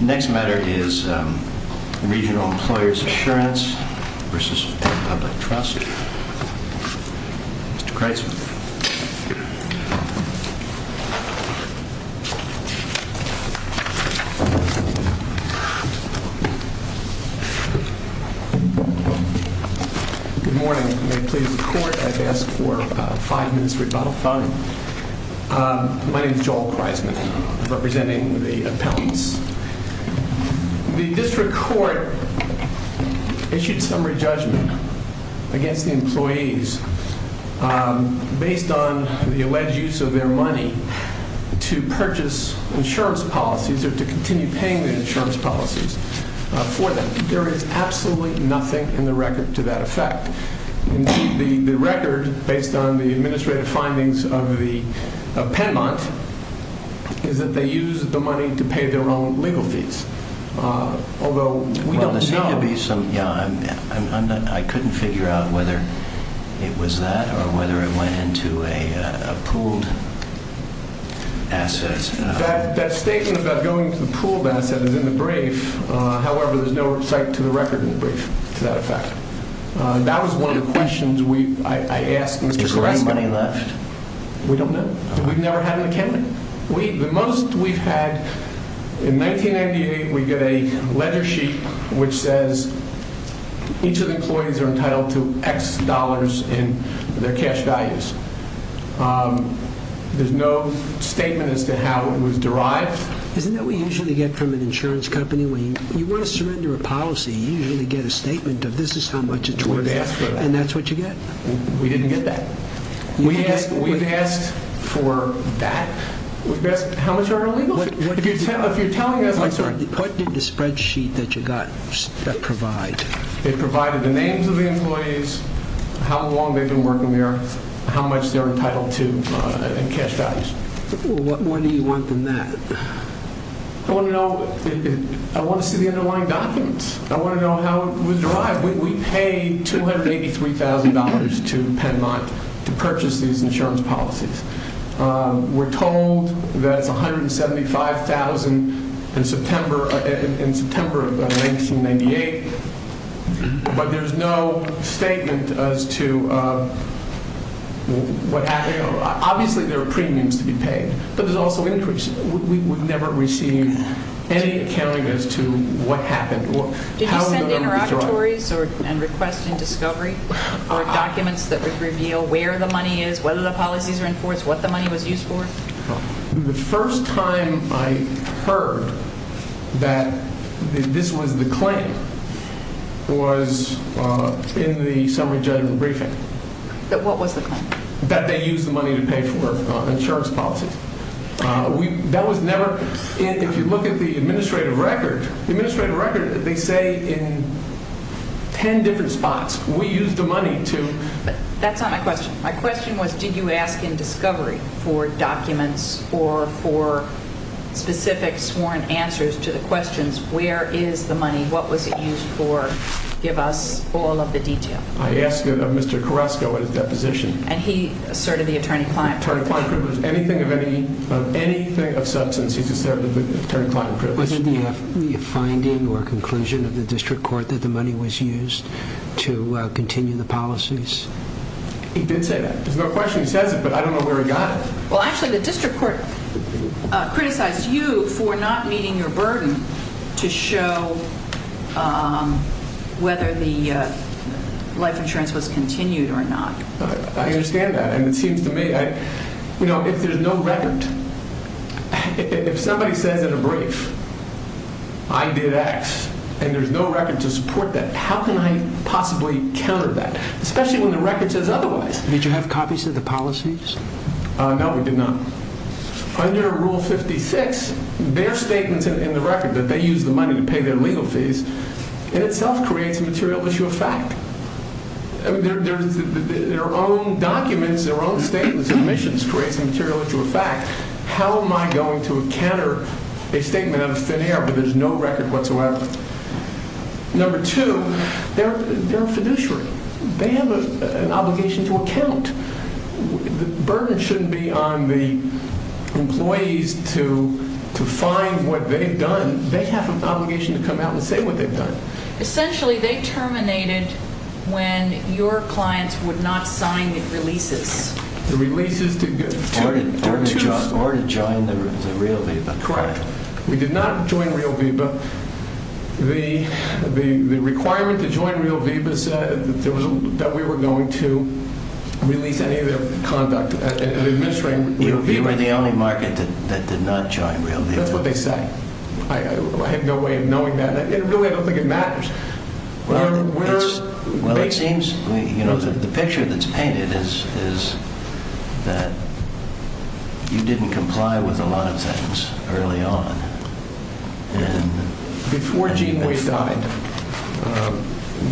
Next matter is Regional Employers Assurance v. Public Trust. Mr. Kreisman. Good morning. May it please the Court, I've asked for five minutes of rebuttal. Fine. My name is Joel Kreisman, representing the appellants. The District Court issued summary judgment against the employees based on the alleged use of their money to purchase insurance policies or to continue paying the insurance policies for them. There is absolutely nothing in the record to that effect. The record, based on the administrative findings of the appellant, is that they used the money to pay their own legal fees. Although, we don't know. I couldn't figure out whether it was that or whether it went into a pooled asset. That statement about going to the pooled asset is in the brief. However, there's no cite to the record in the brief to that effect. That was one of the questions I asked Mr. Kreisman. Is there any money left? We don't know. We've never had an account. The most we've had, in 1998, we get a ledger sheet which says each of the employees are entitled to X dollars in their cash values. There's no statement as to how it was derived. Isn't that what we usually get from an insurance company? When you want to surrender a policy, you usually get a statement of this is how much it's worth. And that's what you get? We didn't get that. We've asked for that. How much are our legal fees? What did the spreadsheet that you got provide? It provided the names of the employees, how long they've been working there, how much they're entitled to in cash values. What more do you want than that? I want to see the underlying documents. I want to know how it was derived. We paid $283,000 to Penmont to purchase these insurance policies. We're told that it's $175,000 in September of 1998. But there's no statement as to what happened. Obviously, there are premiums to be paid. But there's also interest. We've never received any accounting as to what happened. Did you send interlocutories and request in discovery for documents that reveal where the money is, whether the policies are enforced, what the money was used for? The first time I heard that this was the claim was in the summary judgment briefing. What was the claim? That they used the money to pay for insurance policies. If you look at the administrative record, they say in 10 different spots, we used the money to... That's not my question. My question was, did you ask in discovery for documents or for specific sworn answers to the questions, where is the money, what was it used for? Give us all of the detail. I asked Mr. Carrasco at his deposition. And he asserted the attorney-client privilege. If there's anything of substance, he's asserted the attorney-client privilege. Was it the finding or conclusion of the district court that the money was used to continue the policies? He did say that. There's no question he says it, but I don't know where he got it. Well, actually, the district court criticized you for not meeting your burden to show whether the life insurance was continued or not. I understand that. And it seems to me, you know, if there's no record, if somebody says in a brief, I did X, and there's no record to support that, how can I possibly counter that? Especially when the record says otherwise. Did you have copies of the policies? No, we did not. Under Rule 56, their statements in the record that they used the money to pay their legal fees, in itself creates a material issue of fact. Their own documents, their own statements and submissions creates a material issue of fact. How am I going to counter a statement of thin air where there's no record whatsoever? Number two, they're a fiduciary. They have an obligation to account. The burden shouldn't be on the employees to find what they've done. They have an obligation to come out and say what they've done. Essentially, they terminated when your clients would not sign the releases. The releases to... Or to join the Real V.I.B.A. Correct. We did not join Real V.I.B.A. The requirement to join Real V.I.B.A. said that we were going to release any of their conduct. You were the only market that did not join Real V.I.B.A. That's what they say. I have no way of knowing that. I really don't think it matters. Well, it seems... The picture that's painted is that you didn't comply with a lot of things early on. Before Gene Weiss died,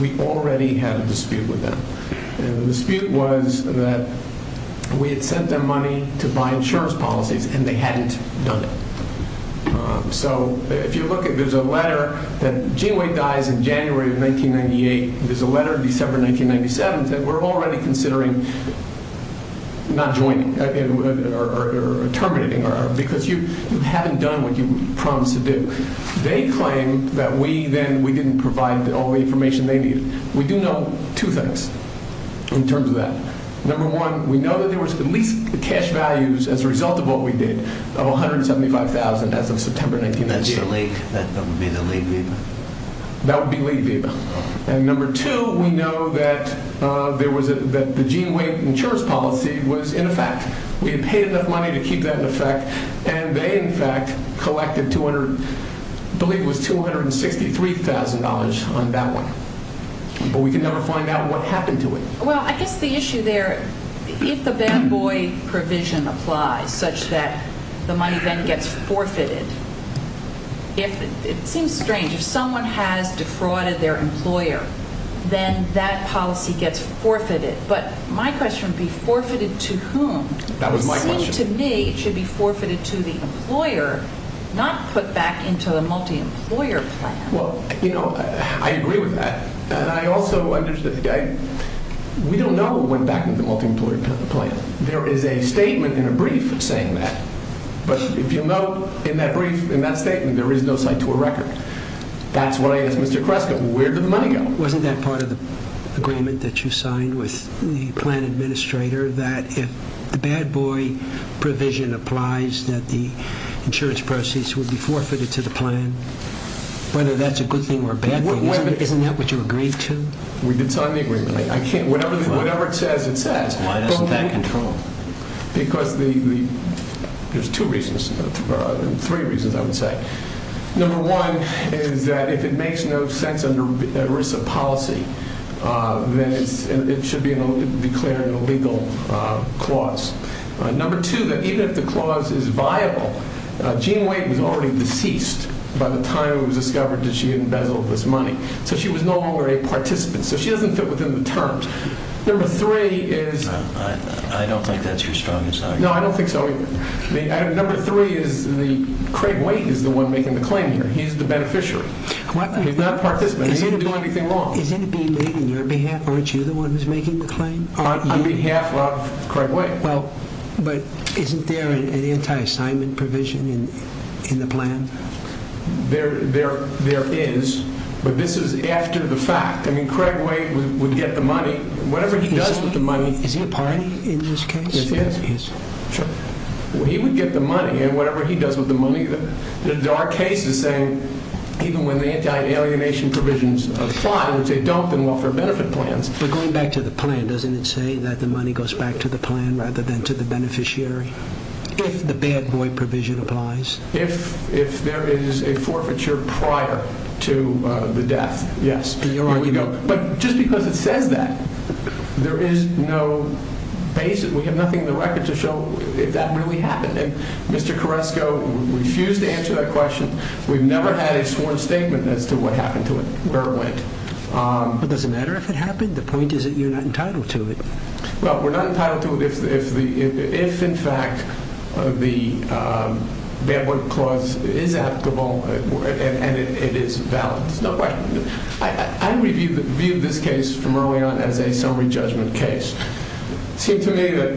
we already had a dispute with them. The dispute was that we had sent them money to buy insurance policies and they hadn't done it. If you look, there's a letter... Gene Weiss dies in January of 1998. There's a letter in December 1997 that we're already considering not joining or terminating. Because you haven't done what you promised to do. They claim that we didn't provide all the information they needed. We do know two things in terms of that. Number one, we know that there was at least cash values as a result of what we did of $175,000 as of September 1997. That would be the late V.I.B.A.? That would be late V.I.B.A. And number two, we know that the Gene Weiss insurance policy was in effect. We had paid enough money to keep that in effect. And they in fact collected $263,000 on that one. But we can never find out what happened to it. Well, I guess the issue there... If the Bam Boyd provision applies such that the money then gets forfeited... It seems strange. If someone has defrauded their employer, then that policy gets forfeited. But my question would be, forfeited to whom? To me, it should be forfeited to the employer, not put back into the multi-employer plan. Well, you know, I agree with that. And I also... We don't know what went back into the multi-employer plan. There is a statement in a brief saying that. But if you'll note, in that brief, in that statement, there is no cite to a record. That's why I asked Mr. Kresko, where did the money go? Wasn't that part of the agreement that you signed with the plan administrator? That if the Bad Boy provision applies, that the insurance proceeds would be forfeited to the plan? Whether that's a good thing or a bad thing? Isn't that what you agreed to? We did sign the agreement. Whatever it says, it says. Why doesn't that control? Because there's two reasons. Three reasons, I would say. Number one is that if it makes no sense under ERISA policy, then it should be declared an illegal clause. Number two, that even if the clause is viable, Jean Waite was already deceased by the time it was discovered that she had embezzled this money. So she was no longer a participant. So she doesn't fit within the terms. Number three is... I don't think that's your strongest argument. No, I don't think so either. Number three is Craig Waite is the one making the claim here. He's the beneficiary. He's not a participant. He didn't do anything wrong. Isn't it being made on your behalf? Aren't you the one who's making the claim? On behalf of Craig Waite. Isn't there a bad boy provision in the plan? There is. But this is after the fact. I mean, Craig Waite would get the money. Whatever he does with the money... Is he a party in this case? He would get the money. And whatever he does with the money... There are cases saying even when the anti-alienation provisions apply, they don't in welfare benefit plans. But going back to the plan, doesn't it say that the money goes back to the plan rather than to the beneficiary? If the bad boy provision applies? If there is a forfeiture prior to the death, yes. But just because it says that, there is no basis. We have nothing in the record to show if that really happened. And Mr. Koresko refused to answer that question. We've never had a sworn statement as to what happened to it or where it went. But does it matter if it happened? The point is that you're not entitled to it. Well, we're not entitled to it if in fact the bad boy clause is applicable and it is valid. I reviewed this case from early on as a summary judgment case. It seemed to me that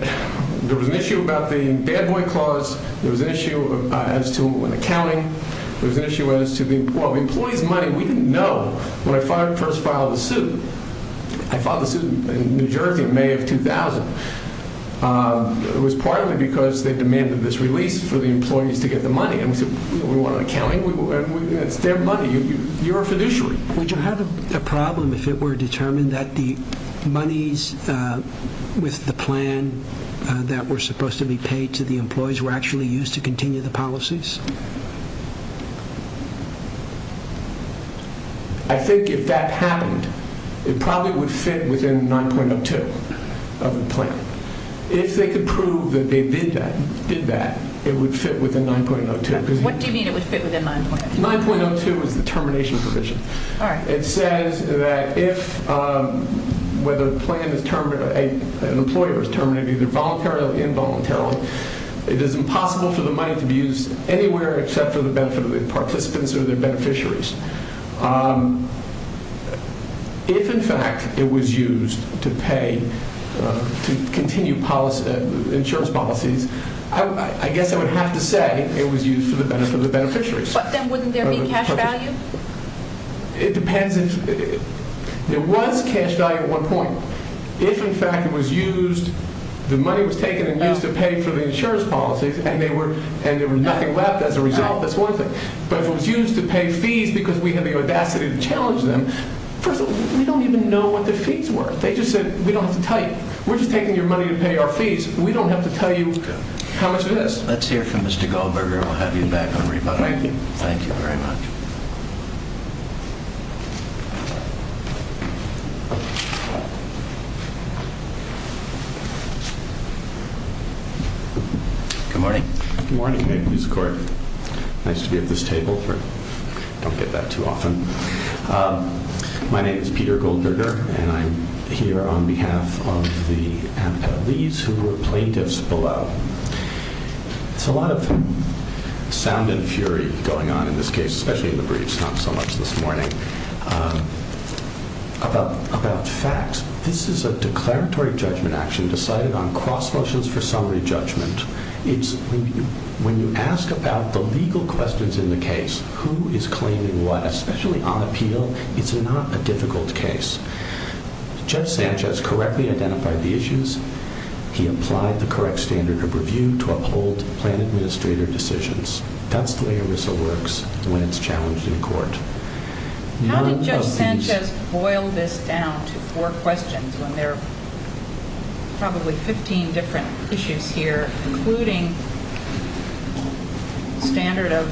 there was an issue about the bad boy clause. There was an issue as to an accounting. There was an issue as to the employees' money. We didn't know when I first filed the suit. I filed the suit in New Jersey in May of 2000. It was partly because they demanded this release for the employees to get the money. We wanted accounting. It's their money. You're a fiduciary. Would you have a problem if it were determined that the monies with the plan that were supposed to be paid to the employees were actually used to continue the policies? I think if that happened, it probably would fit within 9.02 of the plan. If they could prove that they did that, it would fit within 9.02. What do you mean it would fit within 9.02? 9.02 is the termination provision. It says that if an employer is terminated, either voluntarily or involuntarily, it is impossible for the money to be used anywhere except for the benefit of the participants or their beneficiaries. If, in fact, it was used to pay to continue insurance policies, I guess I would have to say it was used for the benefit of the beneficiaries. But then wouldn't there be cash value? It depends. There was cash value at one point. If, in fact, the money was taken and used to pay for the insurance policies and there was nothing left as a result, that's one thing. But if it was used to pay fees because we had the audacity to challenge them, first of all, we don't even know what the fees were. They just said, we don't have to tell you. We're just taking your money to pay our fees. We don't have to tell you how much it is. Let's hear from Mr. Goldberger. We'll have you back on rebuttal. Thank you very much. Good morning. Good morning. Nice to be at this table. Don't get that too often. My name is Peter Goldberger, and I'm here on behalf of the amputees who were plaintiffs below. There's a lot of sound and fury going on in this case, especially in the briefs, not so much this morning, about facts. This is a declaratory judgment action decided on cross-versions for summary judgment. When you ask about the legal questions in the case, who is claiming what, especially on appeal, it's not a difficult case. Judge Sanchez correctly identified the issues. He applied the correct standard of review to uphold plan administrator decisions. That's the way ERISA works when it's challenged in court. How did Judge Sanchez boil this down to four questions when there are probably 15 different issues here? Including standard of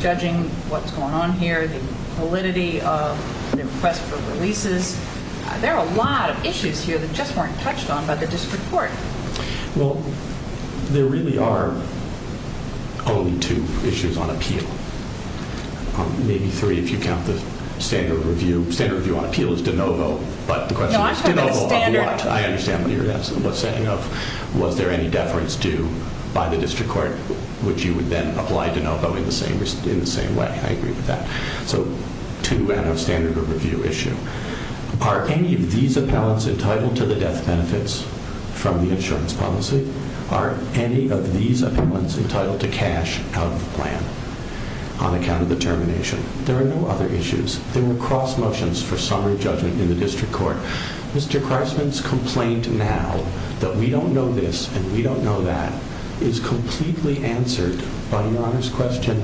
judging what's going on here, the validity of the request for releases. There are a lot of issues here that just weren't touched on by the district court. Well, there really are only two issues on appeal. Maybe three if you count the standard review. Standard review on appeal is de novo, but the question is de novo on what? I understand what you're asking. I understand what you were saying of was there any deference due by the district court, which you would then apply de novo in the same way. I agree with that. Two out of standard of review issue. Are any of these appellants entitled to the death benefits from the insurance policy? Are any of these appellants entitled to cash out of the plan on account of the termination? There are no other issues. There were cross-motions for summary judgment in the district court. Mr. Christman's complaint now that we don't know this and we don't know that is completely answered by Your Honor's question,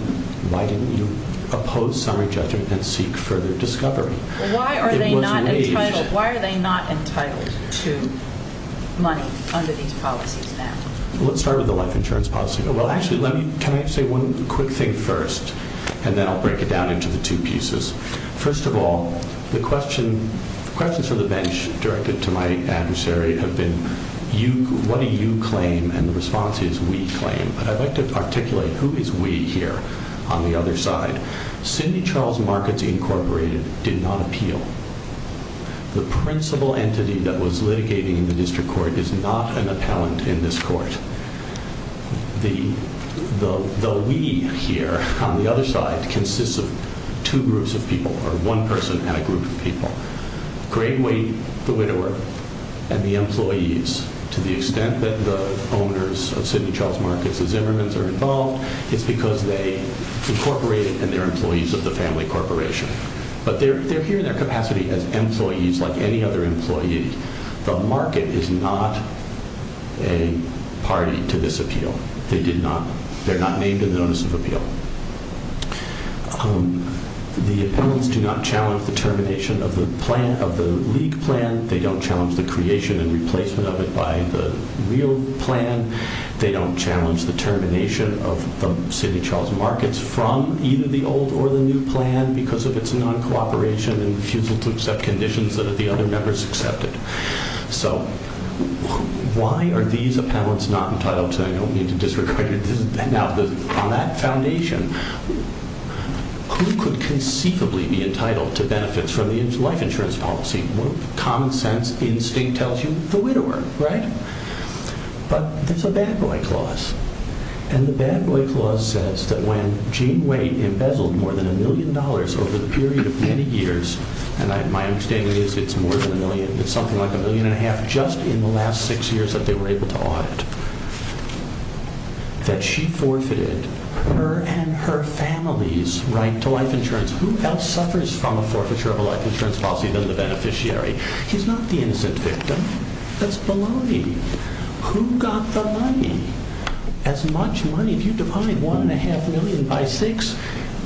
why didn't you oppose summary judgment and seek further discovery? Why are they not entitled to money under these policies now? Let's start with the life insurance policy. Actually, can I say one quick thing first, and then I'll break it down into the two pieces. First of all, the questions for the bench directed to my adversary have been, what do you claim? And the response is, we claim. But I'd like to articulate who is we here on the other side. Cindy Charles Markets Incorporated did not appeal. The principal entity that was litigating in the district court is not an appellant in this court. The we here on the other side consists of two groups of people, or one person and a group of people. Great Weight, the widower, and the employees. To the extent that the owners of Cindy Charles Markets, the Zimmermans, are involved, it's because they incorporated and they're employees of the family corporation. But they're here in their capacity as employees like any other employee. The market is not a party to this appeal. They're not named in the Notice of Appeal. The appellants do not challenge the termination of the league plan. They don't challenge the creation and replacement of it by the real plan. They don't challenge the termination of the Cindy Charles Markets from either the old or the new plan, because of its non-cooperation and refusal to accept conditions that the other members accepted. So, why are these appellants not entitled to an opening to district court? Now, on that foundation, who could conceivably be entitled to benefits from the life insurance policy? Common sense instinct tells you the widower, right? But there's a bad boy clause. And the bad boy clause says that when Gene Wade embezzled more than a million dollars over the period of many years, and my understanding is it's more than a million, it's something like a million and a half just in the last six years that they were able to audit, that she forfeited her and her family's right to life insurance. Who else suffers from a forfeiture of a life insurance policy than the beneficiary? He's not the innocent victim. That's baloney. Who got the money? As much money, if you divide one and a half million by six,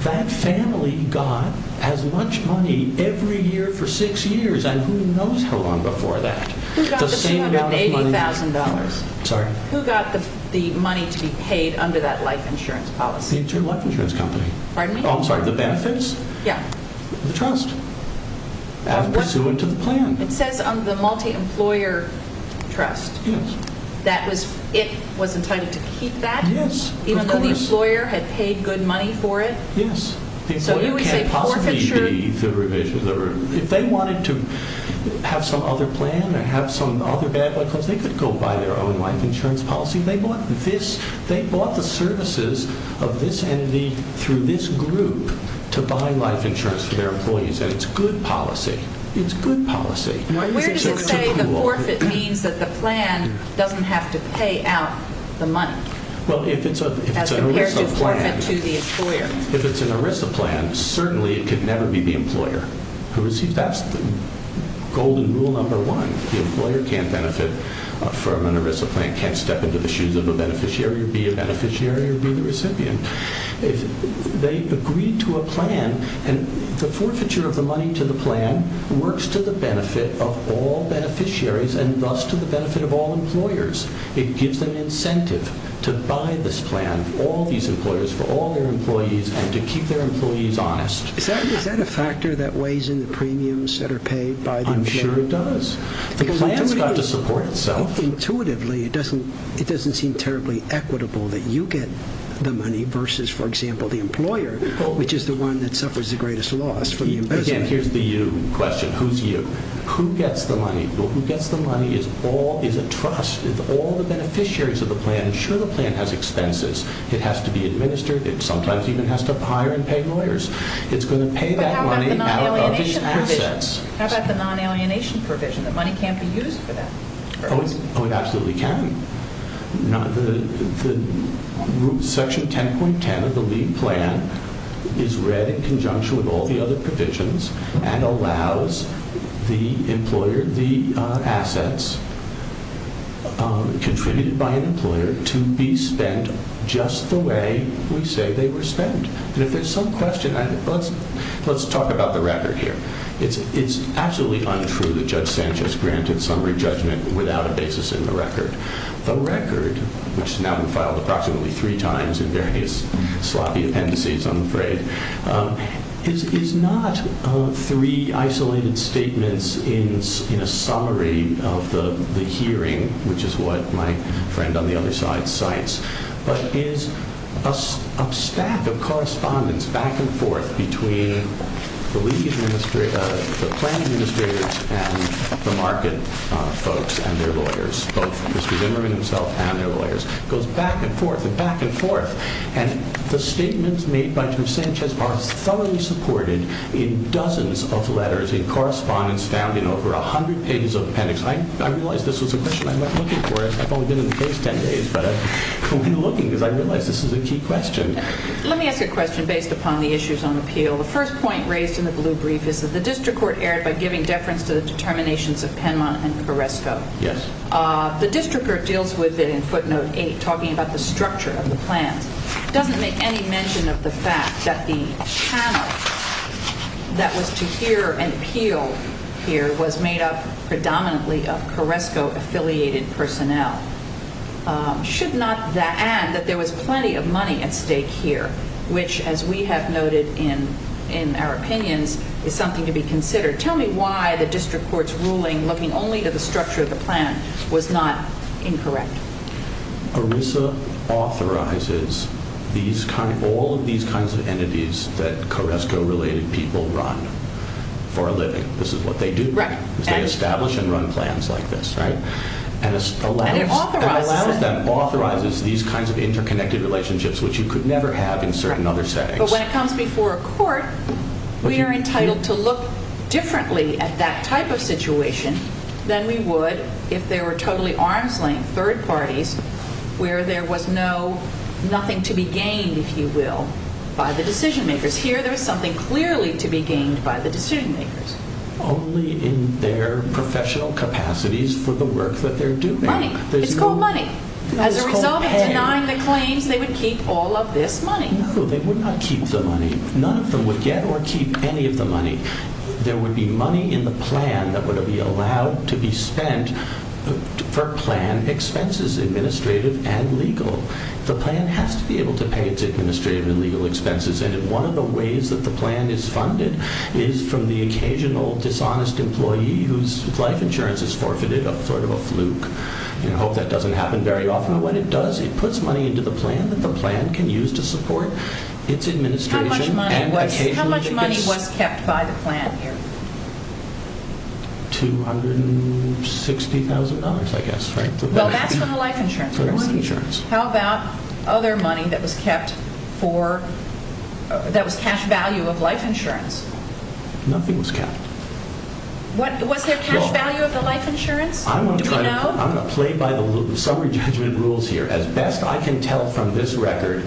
that family got as much money every year for six years, and who knows how long before that. Who got the $280,000? Sorry? Who got the money to be paid under that life insurance policy? It's your life insurance company. Pardon me? Oh, I'm sorry, the benefits? Yeah. The trust, as pursuant to the plan. It says on the multi-employer trust that it was entitled to keep that? Yes, of course. The employer had paid good money for it? Yes. So you would say forfeiture? If they wanted to have some other plan or have some other bad life insurance, they could go buy their own life insurance policy. They bought the services of this entity through this group to buy life insurance for their employees, and it's good policy. It's good policy. Where does it say the forfeit means that the plan doesn't have to pay out the money? Well, if it's an ERISA plan... As compared to forfeit to the employer. If it's an ERISA plan, certainly it could never be the employer. That's the golden rule number one. The employer can't benefit from an ERISA plan, can't step into the shoes of a beneficiary or be a beneficiary or be the recipient. They agreed to a plan, and the forfeiture of the money to the plan works to the benefit of all beneficiaries and thus to the benefit of all employers. It gives them incentive to buy this plan for all these employers, for all their employees, and to keep their employees honest. Is that a factor that weighs in the premiums that are paid by the plan? I'm sure it does. The plan's got to support itself. Intuitively, it doesn't seem terribly equitable that you get the money versus, for example, the employer, which is the one that suffers the greatest loss from the employer. Again, here's the you question. Who's you? Who gets the money? The people who gets the money is a trust. All the beneficiaries of the plan ensure the plan has expenses. It has to be administered. It sometimes even has to hire and pay lawyers. It's going to pay that money out of the assets. How about the non-alienation provision? The money can't be used for that. Oh, it absolutely can. Section 10.10 of the LEAD plan is read in conjunction with all the other provisions and allows the assets contributed by an employer to be spent just the way we say they were spent. And if there's some question, let's talk about the record here. It's absolutely untrue that Judge Sanchez granted summary judgment without a basis in the record. The record, which now we filed approximately three times in various sloppy appendices, I'm afraid, is not three isolated statements in a summary of the hearing, which is what my friend on the other side cites, but is a stack of correspondence back and forth between the plan administrators and the market folks and their lawyers, both Mr. Zimmerman himself and their lawyers. It goes back and forth and back and forth. And the statements made by Judge Sanchez are thoroughly supported in dozens of letters, in correspondence found in over 100 pages of appendix. I realize this was a question I went looking for. I've only been in the case 10 days, but I've been looking because I realize this is a key question. Let me ask a question based upon the issues on appeal. The first point raised in the blue brief is that the district court erred by giving deference to the determinations of Penmont and Carresco. Yes. The district court deals with it in footnote 8, talking about the structure of the plans. It doesn't make any mention of the fact that the channel that was to hear and appeal here was made up predominantly of Carresco-affiliated personnel. Should not that add that there was plenty of money at stake here, which, as we have noted in our opinions, is something to be considered? Tell me why the district court's ruling looking only to the structure of the plan was not incorrect? ERISA authorizes all of these kinds of entities that Carresco-related people run for a living. This is what they do. They establish and run plans like this, right? And it authorizes these kinds of interconnected relationships which you could never have in certain other settings. But when it comes before a court, we are entitled to look differently at that type of situation than we would if there were totally arm's-length third parties where there was nothing to be gained, if you will, by the decision-makers. Here there is something clearly to be gained by the decision-makers. Only in their professional capacities for the work that they're doing. Money. It's called money. As a result of denying the claims, they would keep all of this money. No, they would not keep the money. None of them would get or keep any of the money. There would be money in the plan that would be allowed to be spent for plan expenses, administrative and legal. The plan has to be able to pay its administrative and legal expenses. And one of the ways that the plan is funded is from the occasional dishonest employee whose life insurance is forfeited, a sort of a fluke. I hope that doesn't happen very often. But what it does, it puts money into the plan that the plan can use to support its administration. How much money was kept by the plan here? $260,000, I guess. Well, that's from the life insurance. How about other money that was kept that was cash value of life insurance? Nothing was kept. Was there cash value of the life insurance? Do we know? I'm going to play by the summary judgment rules here. As best I can tell from this record,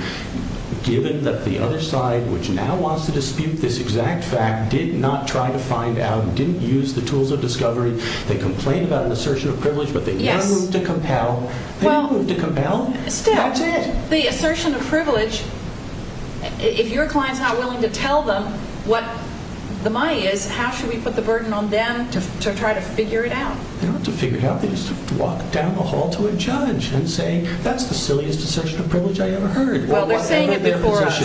given that the other side, which now wants to dispute this exact fact, did not try to find out, didn't use the tools of discovery, they complain about an assertion of privilege, but they have no room to compel. They have no room to compel. The assertion of privilege, if your client's not willing to tell them what the money is, how should we put the burden on them to try to figure it out? They don't have to figure it out. They just have to walk down the hall to a judge and say, that's the silliest assertion of privilege I ever heard. Well, they're saying it before us.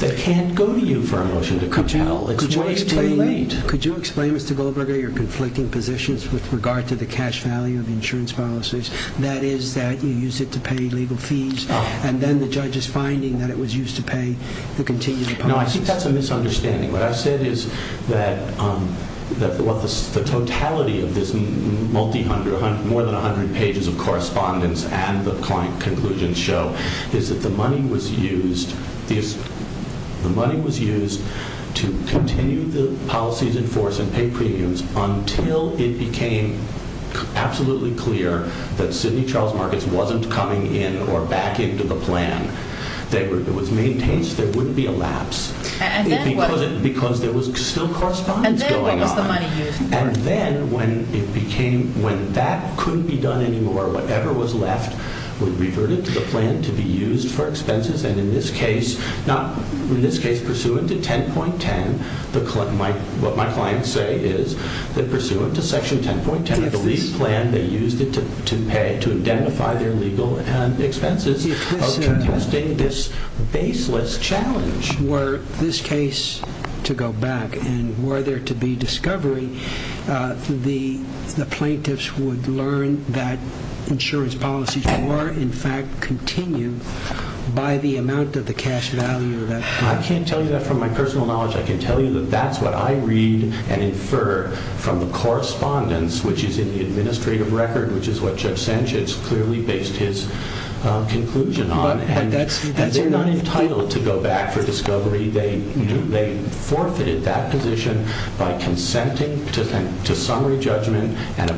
They have no room to compel. It's way too late. Could you explain, Mr. Goldberger, your conflicting positions with regard to the cash value of the insurance policies? That is, that you use it to pay legal fees, and then the judge is finding that it was used to pay the contingent policies. No, I think that's a misunderstanding. What I've said is that the totality of this multi-hundred, more than 100 pages of correspondence and the client conclusions show is that the money was used to continue the policies in force and pay premiums until it became absolutely clear that Sidney Charles Markets wasn't coming in or back into the plan. It was maintained so there wouldn't be a lapse. And then what? Because there was still correspondence going on. And then what was the money used for? And then when that couldn't be done anymore, whatever was left was reverted to the plan to be used for expenses, in this case, pursuant to 10.10, what my clients say is that pursuant to Section 10.10 of the lease plan, they used it to pay to identify their legal expenses of contesting this baseless challenge. Were this case to go back and were there to be discovery, the plaintiffs would learn that insurance policies were, in fact, continued by the amount of cash value? I can't tell you that from my personal knowledge. I can tell you that that's what I read and infer from the correspondence which is in the administrative record, which is what Judge Sanchez clearly based his conclusion on. And they're not entitled to go back for discovery. They forfeited that position by consenting to summary judgment and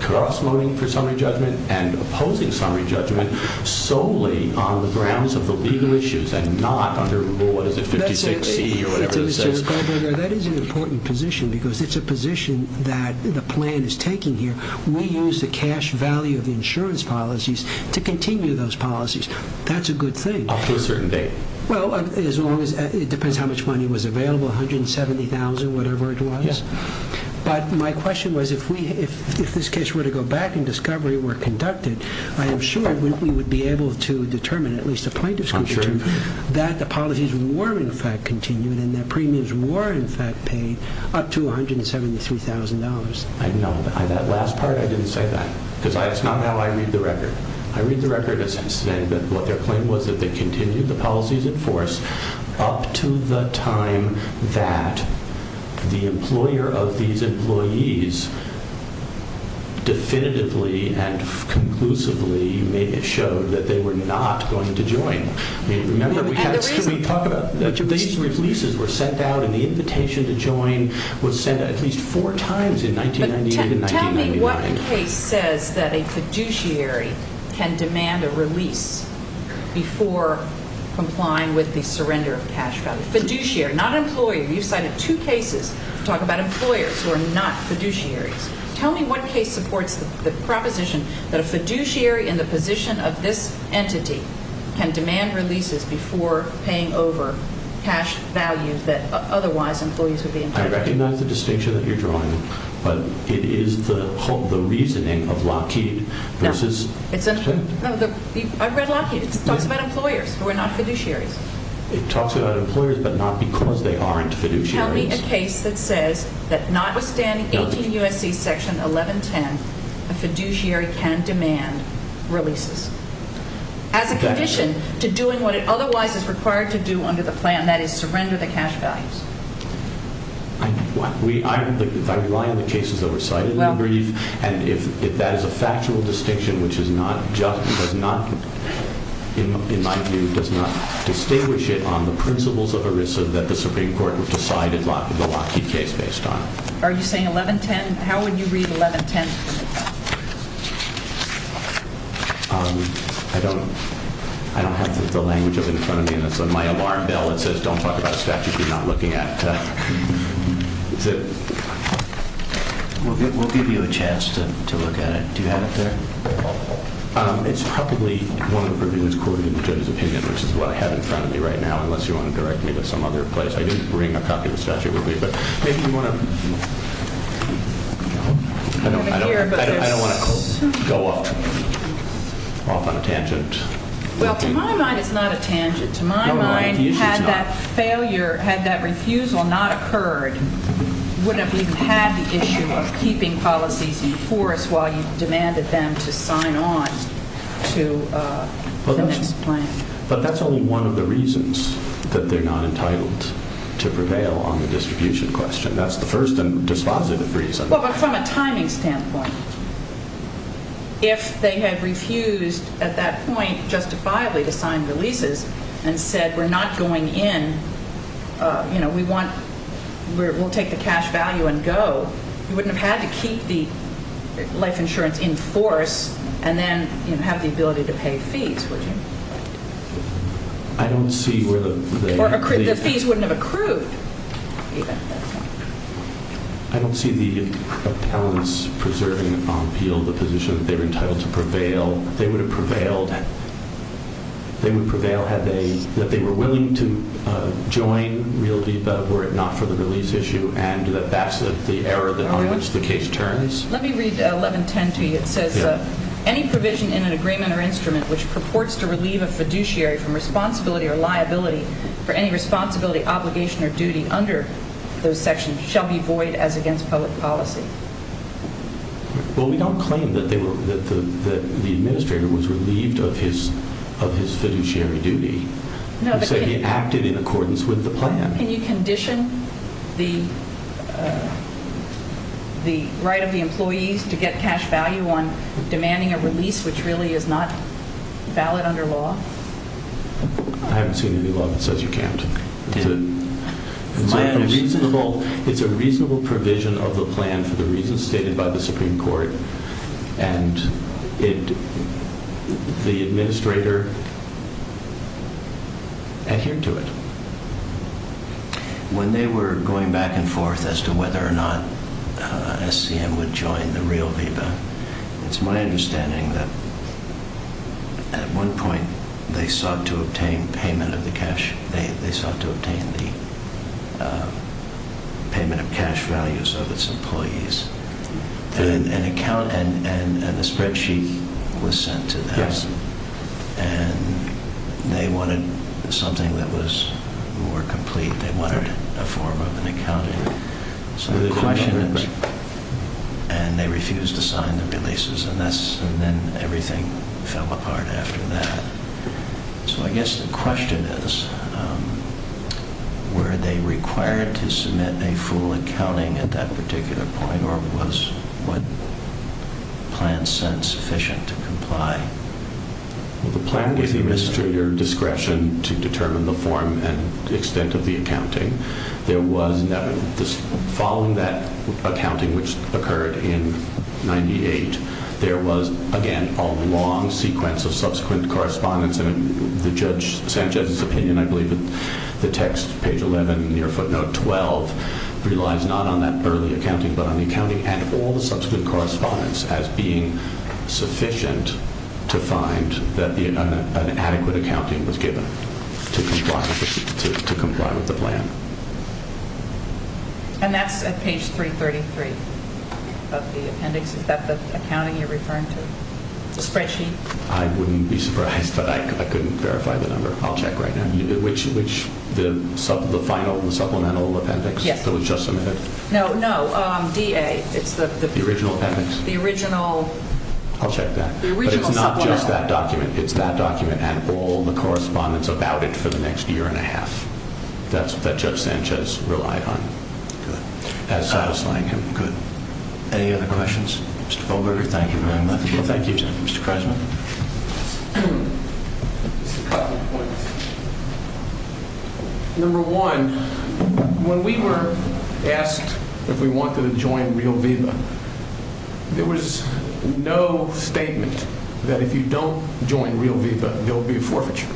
cross-voting for summary judgment and opposing summary judgment which is not under rule, what is it, 56C or whatever it says. That is an important position because it's a position that the plan is taking here. We use the cash value of the insurance policies to continue those policies. That's a good thing. Up to a certain date. Well, it depends how much money was available, $170,000, whatever it was. But my question was if this case were to go back the policies were in fact continued and their premiums were in fact paid up to $173,000. I know. That last part I didn't say that because it's not how I read the record. I read the record as saying that what their claim was that they continued the policies in force up to the time that the employer of these employees definitively and conclusively showed that they were not going to join. That's the reason. These releases were sent out and the invitation to join was sent at least four times in 1998 and 1999. Tell me what case says that a fiduciary can demand a release before complying with the surrender of cash value. Fiduciary, not employer. You've cited two cases that talk about employers who are not fiduciaries. Tell me what case supports the proposition that a fiduciary is paying over cash value that otherwise employees would be entitled to. I recognize the distinction that you're drawing, but it is the reasoning of Lockheed versus... I've read Lockheed. It talks about employers who are not fiduciaries. It talks about employers but not because they aren't fiduciaries. Tell me a case that says that notwithstanding 18 U.S.C. section 1110 it's hard to do under the plan that is surrender the cash values. I rely on the cases that were cited in the brief and if that is a factual distinction which does not, in my view, does not distinguish it on the principles of ERISA that the Supreme Court would decide in the Lockheed case based on. Are you saying 1110? How would you read 1110? I don't have the language in front of me and it's on my alarm bell that says don't talk about statutes you're not looking at. We'll give you a chance to look at it. Do you have it there? It's probably one of the reviews according to the judge's opinion versus what I have in front of me right now unless you want to direct me to some other place. I did bring a copy of the statute with me, but maybe you want to... I don't want to go off on a tangent. Well, to my mind, it's not a tangent. To my mind, had that failure, had that refusal not occurred, you wouldn't have had the issue of keeping policies in force while you demanded them to sign on to the next plan. But that's only one of the reasons that they're not entitled to prevail on the distribution question. That's the first and dispositive reason. Well, but from a timing standpoint, if they had refused at that point justifiably to sign the leases and said we're not going in, you know, we'll take the cash value and go, you wouldn't have had to keep the life insurance in force and then have the ability to pay fees, would you? I don't see where the... Or the fees wouldn't have accrued. I don't see the... I don't see the importance of talents preserving appeal, the position that they're entitled to prevail. They would have prevailed... They would prevail had they... If they were willing to join RealViva were it not for the release issue and that that's the era on which the case turns. Let me read 1110 to you. It says, Any provision in an agreement or instrument which purports to relieve a fiduciary from responsibility or liability for any responsibility, obligation, or duty under those sections shall be void as against public policy. Well, we don't claim that the administrator was relieved of his fiduciary duty. We say he acted in accordance with the plan. Can you condition the right of the employees to get cash value on demanding a release which really is not valid under law? I haven't seen any law that says you can't. It's a reasonable... It's a reasonable provision of the plan for the reasons stated by the Supreme Court and it... The administrator adhered to it. When they were going back and forth as to whether or not SCM would join the RealViva, it's my understanding that at one point they sought to obtain payment of the cash. They sought to obtain the payment of cash values of its employees. An account... And a spreadsheet was sent to them. And they wanted something that was more complete. They wanted a form of an accounting. So the question is... And they refused to sign the releases. And then everything fell apart after that. So I guess the question is were they required to submit a full accounting at that particular point or was what plan sent sufficient to comply? Well, the plan was to your discretion to determine the form and extent of the accounting. There was... Following that accounting which occurred in 98, there was, again, a long sequence of subsequent correspondence and the Judge Sanchez's opinion, I believe, the text page 11 near footnote 12 relies not on that early accounting but on the accounting and all the subsequent correspondence as being sufficient to find that an adequate accounting was given with the plan. And that's at page 333 of the appendix. Is that the accounting you're referring to? The spreadsheet? I wouldn't be surprised but I couldn't verify the number. I'll check right now. Which... the final supplemental appendix that was just submitted? Yes. No, no. It's the... The original appendix? The original... I'll check that. The original supplemental appendix. But it's not just that document. It's that document and all the correspondence about it for the next year and a half. That's what Judge Sanchez relied on as satisfying him. Good. Any other questions? Mr. Bolger, thank you very much. Thank you, gentlemen. Mr. Kreisman. Number one, when we were asked if we wanted to join RealViva, there was no statement that if you don't join RealViva, there will be a forfeiture.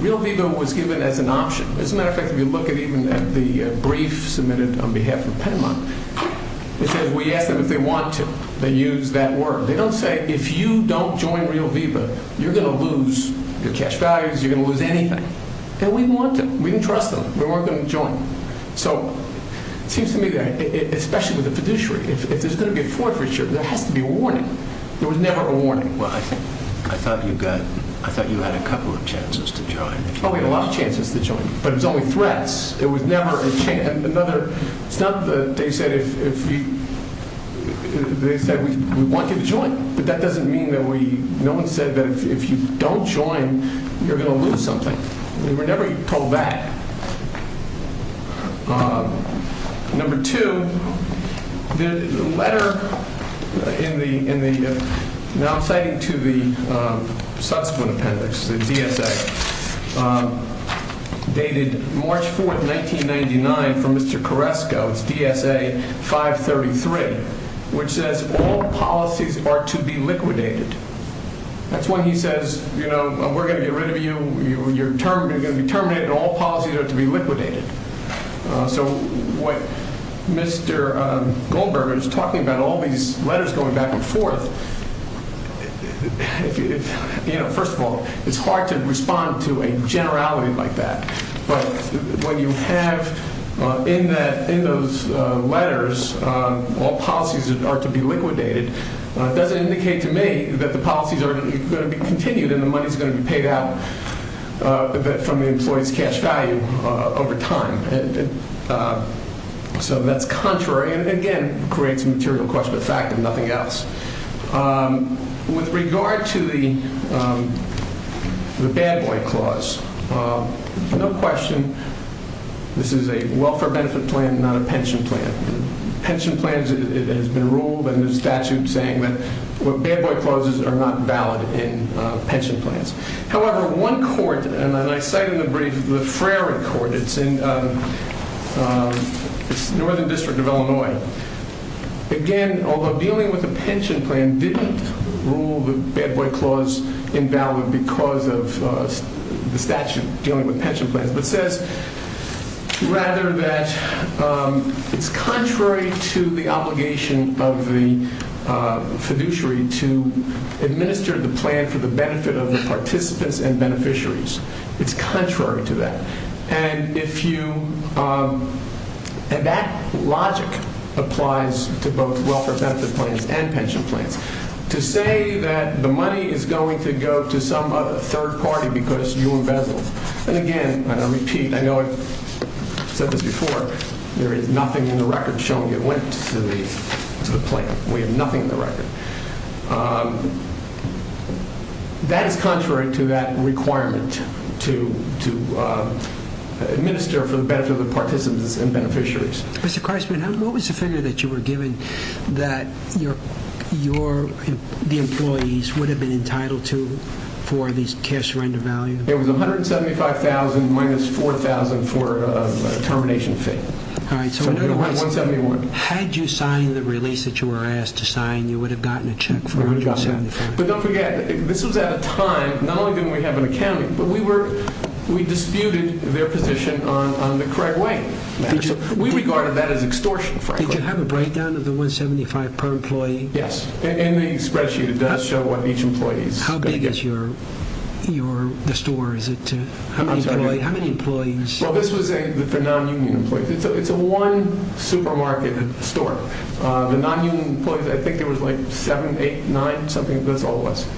RealViva was given as an option. As a matter of fact, if you look at even the brief submitted on behalf of Penmont, it says we ask them if they want to. They use that word. They don't say if you don't join RealViva, you're going to lose your cash values. You're going to lose anything. And we want to. We didn't trust them. We weren't going to join. So, it seems to me that especially with the fiduciary, if there's going to be a forfeiture, there has to be a warning. There was never a warning. Well, I thought you had a couple of chances to join. Oh, we had a lot of chances to join. But it was only threats. It was never another... It's not that they said we want you to join. But that doesn't mean that we... No one said that if you don't join, you're going to lose something. We were never told that. Number two, the letter in the... Now, I'm citing to the It's DSA. The letter is dated March 4th, 1999 from Mr. Carresco. It's dated March 4th, 1999 from Mr. Carresco. Subjected to Section 533 Subjected to Section 533 which says all policies are to be liquidated. That's when he says, you know, we're going to get rid of you, you know, when you're termed, you're going to be terminated and all policies are to be liquidated. So what Mr. Goldberger is talking about all these letters going back and forth... you know, first of all, it's hard to respond to a letter that says all policies are to be liquidated. It doesn't indicate to me that the policies are going to be continued and the money's going to be paid out from the employee's cash value over time. So that's contrary and again, creates a material question of fact and nothing else. With regard to the bad boy clause, no question this is a welfare benefit plan, not a pension plan. Pension plans has been ruled in the statute saying that bad boy clauses are not valid in pension plans. However, one court and I cite in the brief, the Frary Court, it's in Northern District of the statute dealing with pension plans but says rather that it's contrary to the obligation of the fiduciary to administer for the benefit of the participants and beneficiaries. It's contrary to that. And if you and that logic applies to both welfare and pension plans, it's contrary to the obligation of the fiduciary to administer for the benefit of the participants and beneficiaries. What was the figure that you were given that your the employees would have been entitled to for these benefits? It was $175,000 minus $4,000 for termination fee. Had you signed the release that you were asked to sign, you would have gotten a check for $175,000. But don't forget this was at a time not only didn't we have an accounting but we disputed their position on the correct way. We regarded that as extortion. Did you have a of the $175,000 per employee? Yes. In the spreadsheet it does show what each employee is going to get. How big is the store? It's a one supermarket store. The non-union employees I think there was seven, eight, nine, that's all it was.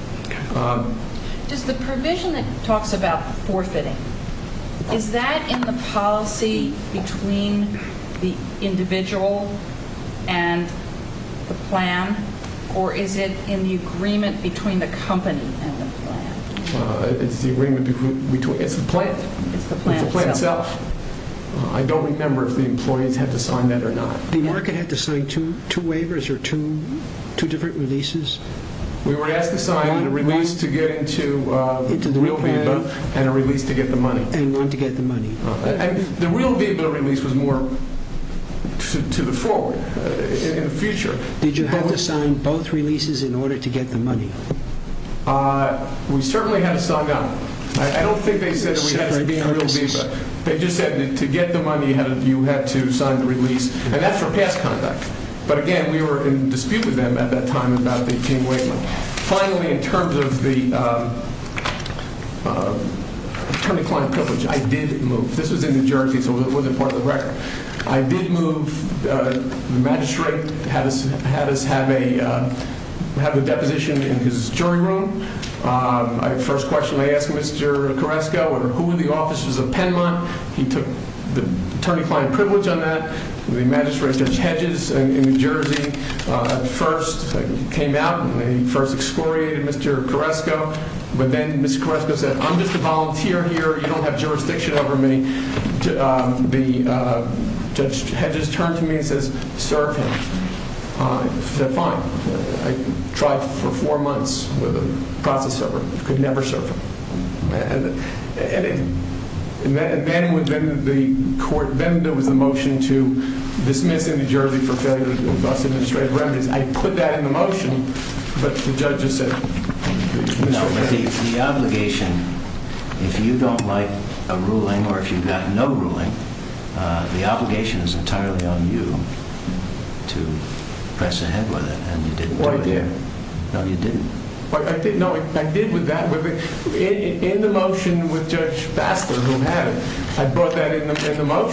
Does the provision that talks about forfeiting, is that in the policy between the individual and the plan or is it in the agreement between the company and the plan? It's the plan. It's the plan itself. I don't remember if the employees had to sign that or not. The market had to sign two waivers or two different releases? We were asked to sign a release to get into the real VIVA. The real VIVA release was more to the forward in the future. Did you have to sign both releases in order to get the money? We certainly had to sign that. They just said to get the money you had to sign the VIVA release. I did move the magistrate had us have a deposition in his jury room. The first question I asked was who were the officers of Penmont. The magistrate in New Jersey first came out and first excoriated me. He said I'm just a volunteer here. You don't have jurisdiction over me. The judge turned to me and said serve him. I said fine. I tried for four months with a process server. I could never do that. He said you have to exhort dismissing him. He said you have to exhort the magistrate to run because I'm dismissing him. I said you have to exhort magistrate said you have to exhort the magistrate to run because I'm dismissing him. He said you have to exhort the magistrate to run because I'm I said you have to the magistrate to run because I'm dismissing him. He said you have to exhort the magistrate to run I'm magistrate because I'm dismissing him. He said you have to exhort the magistrate to run because I'm dismissing him. He the him. He have to exhort the magistrate to run because I'm I'm dismissing him. He said you have to exhort the magistrate to run because I'm dismissing him. He have to exhort the magistrate to run because I'm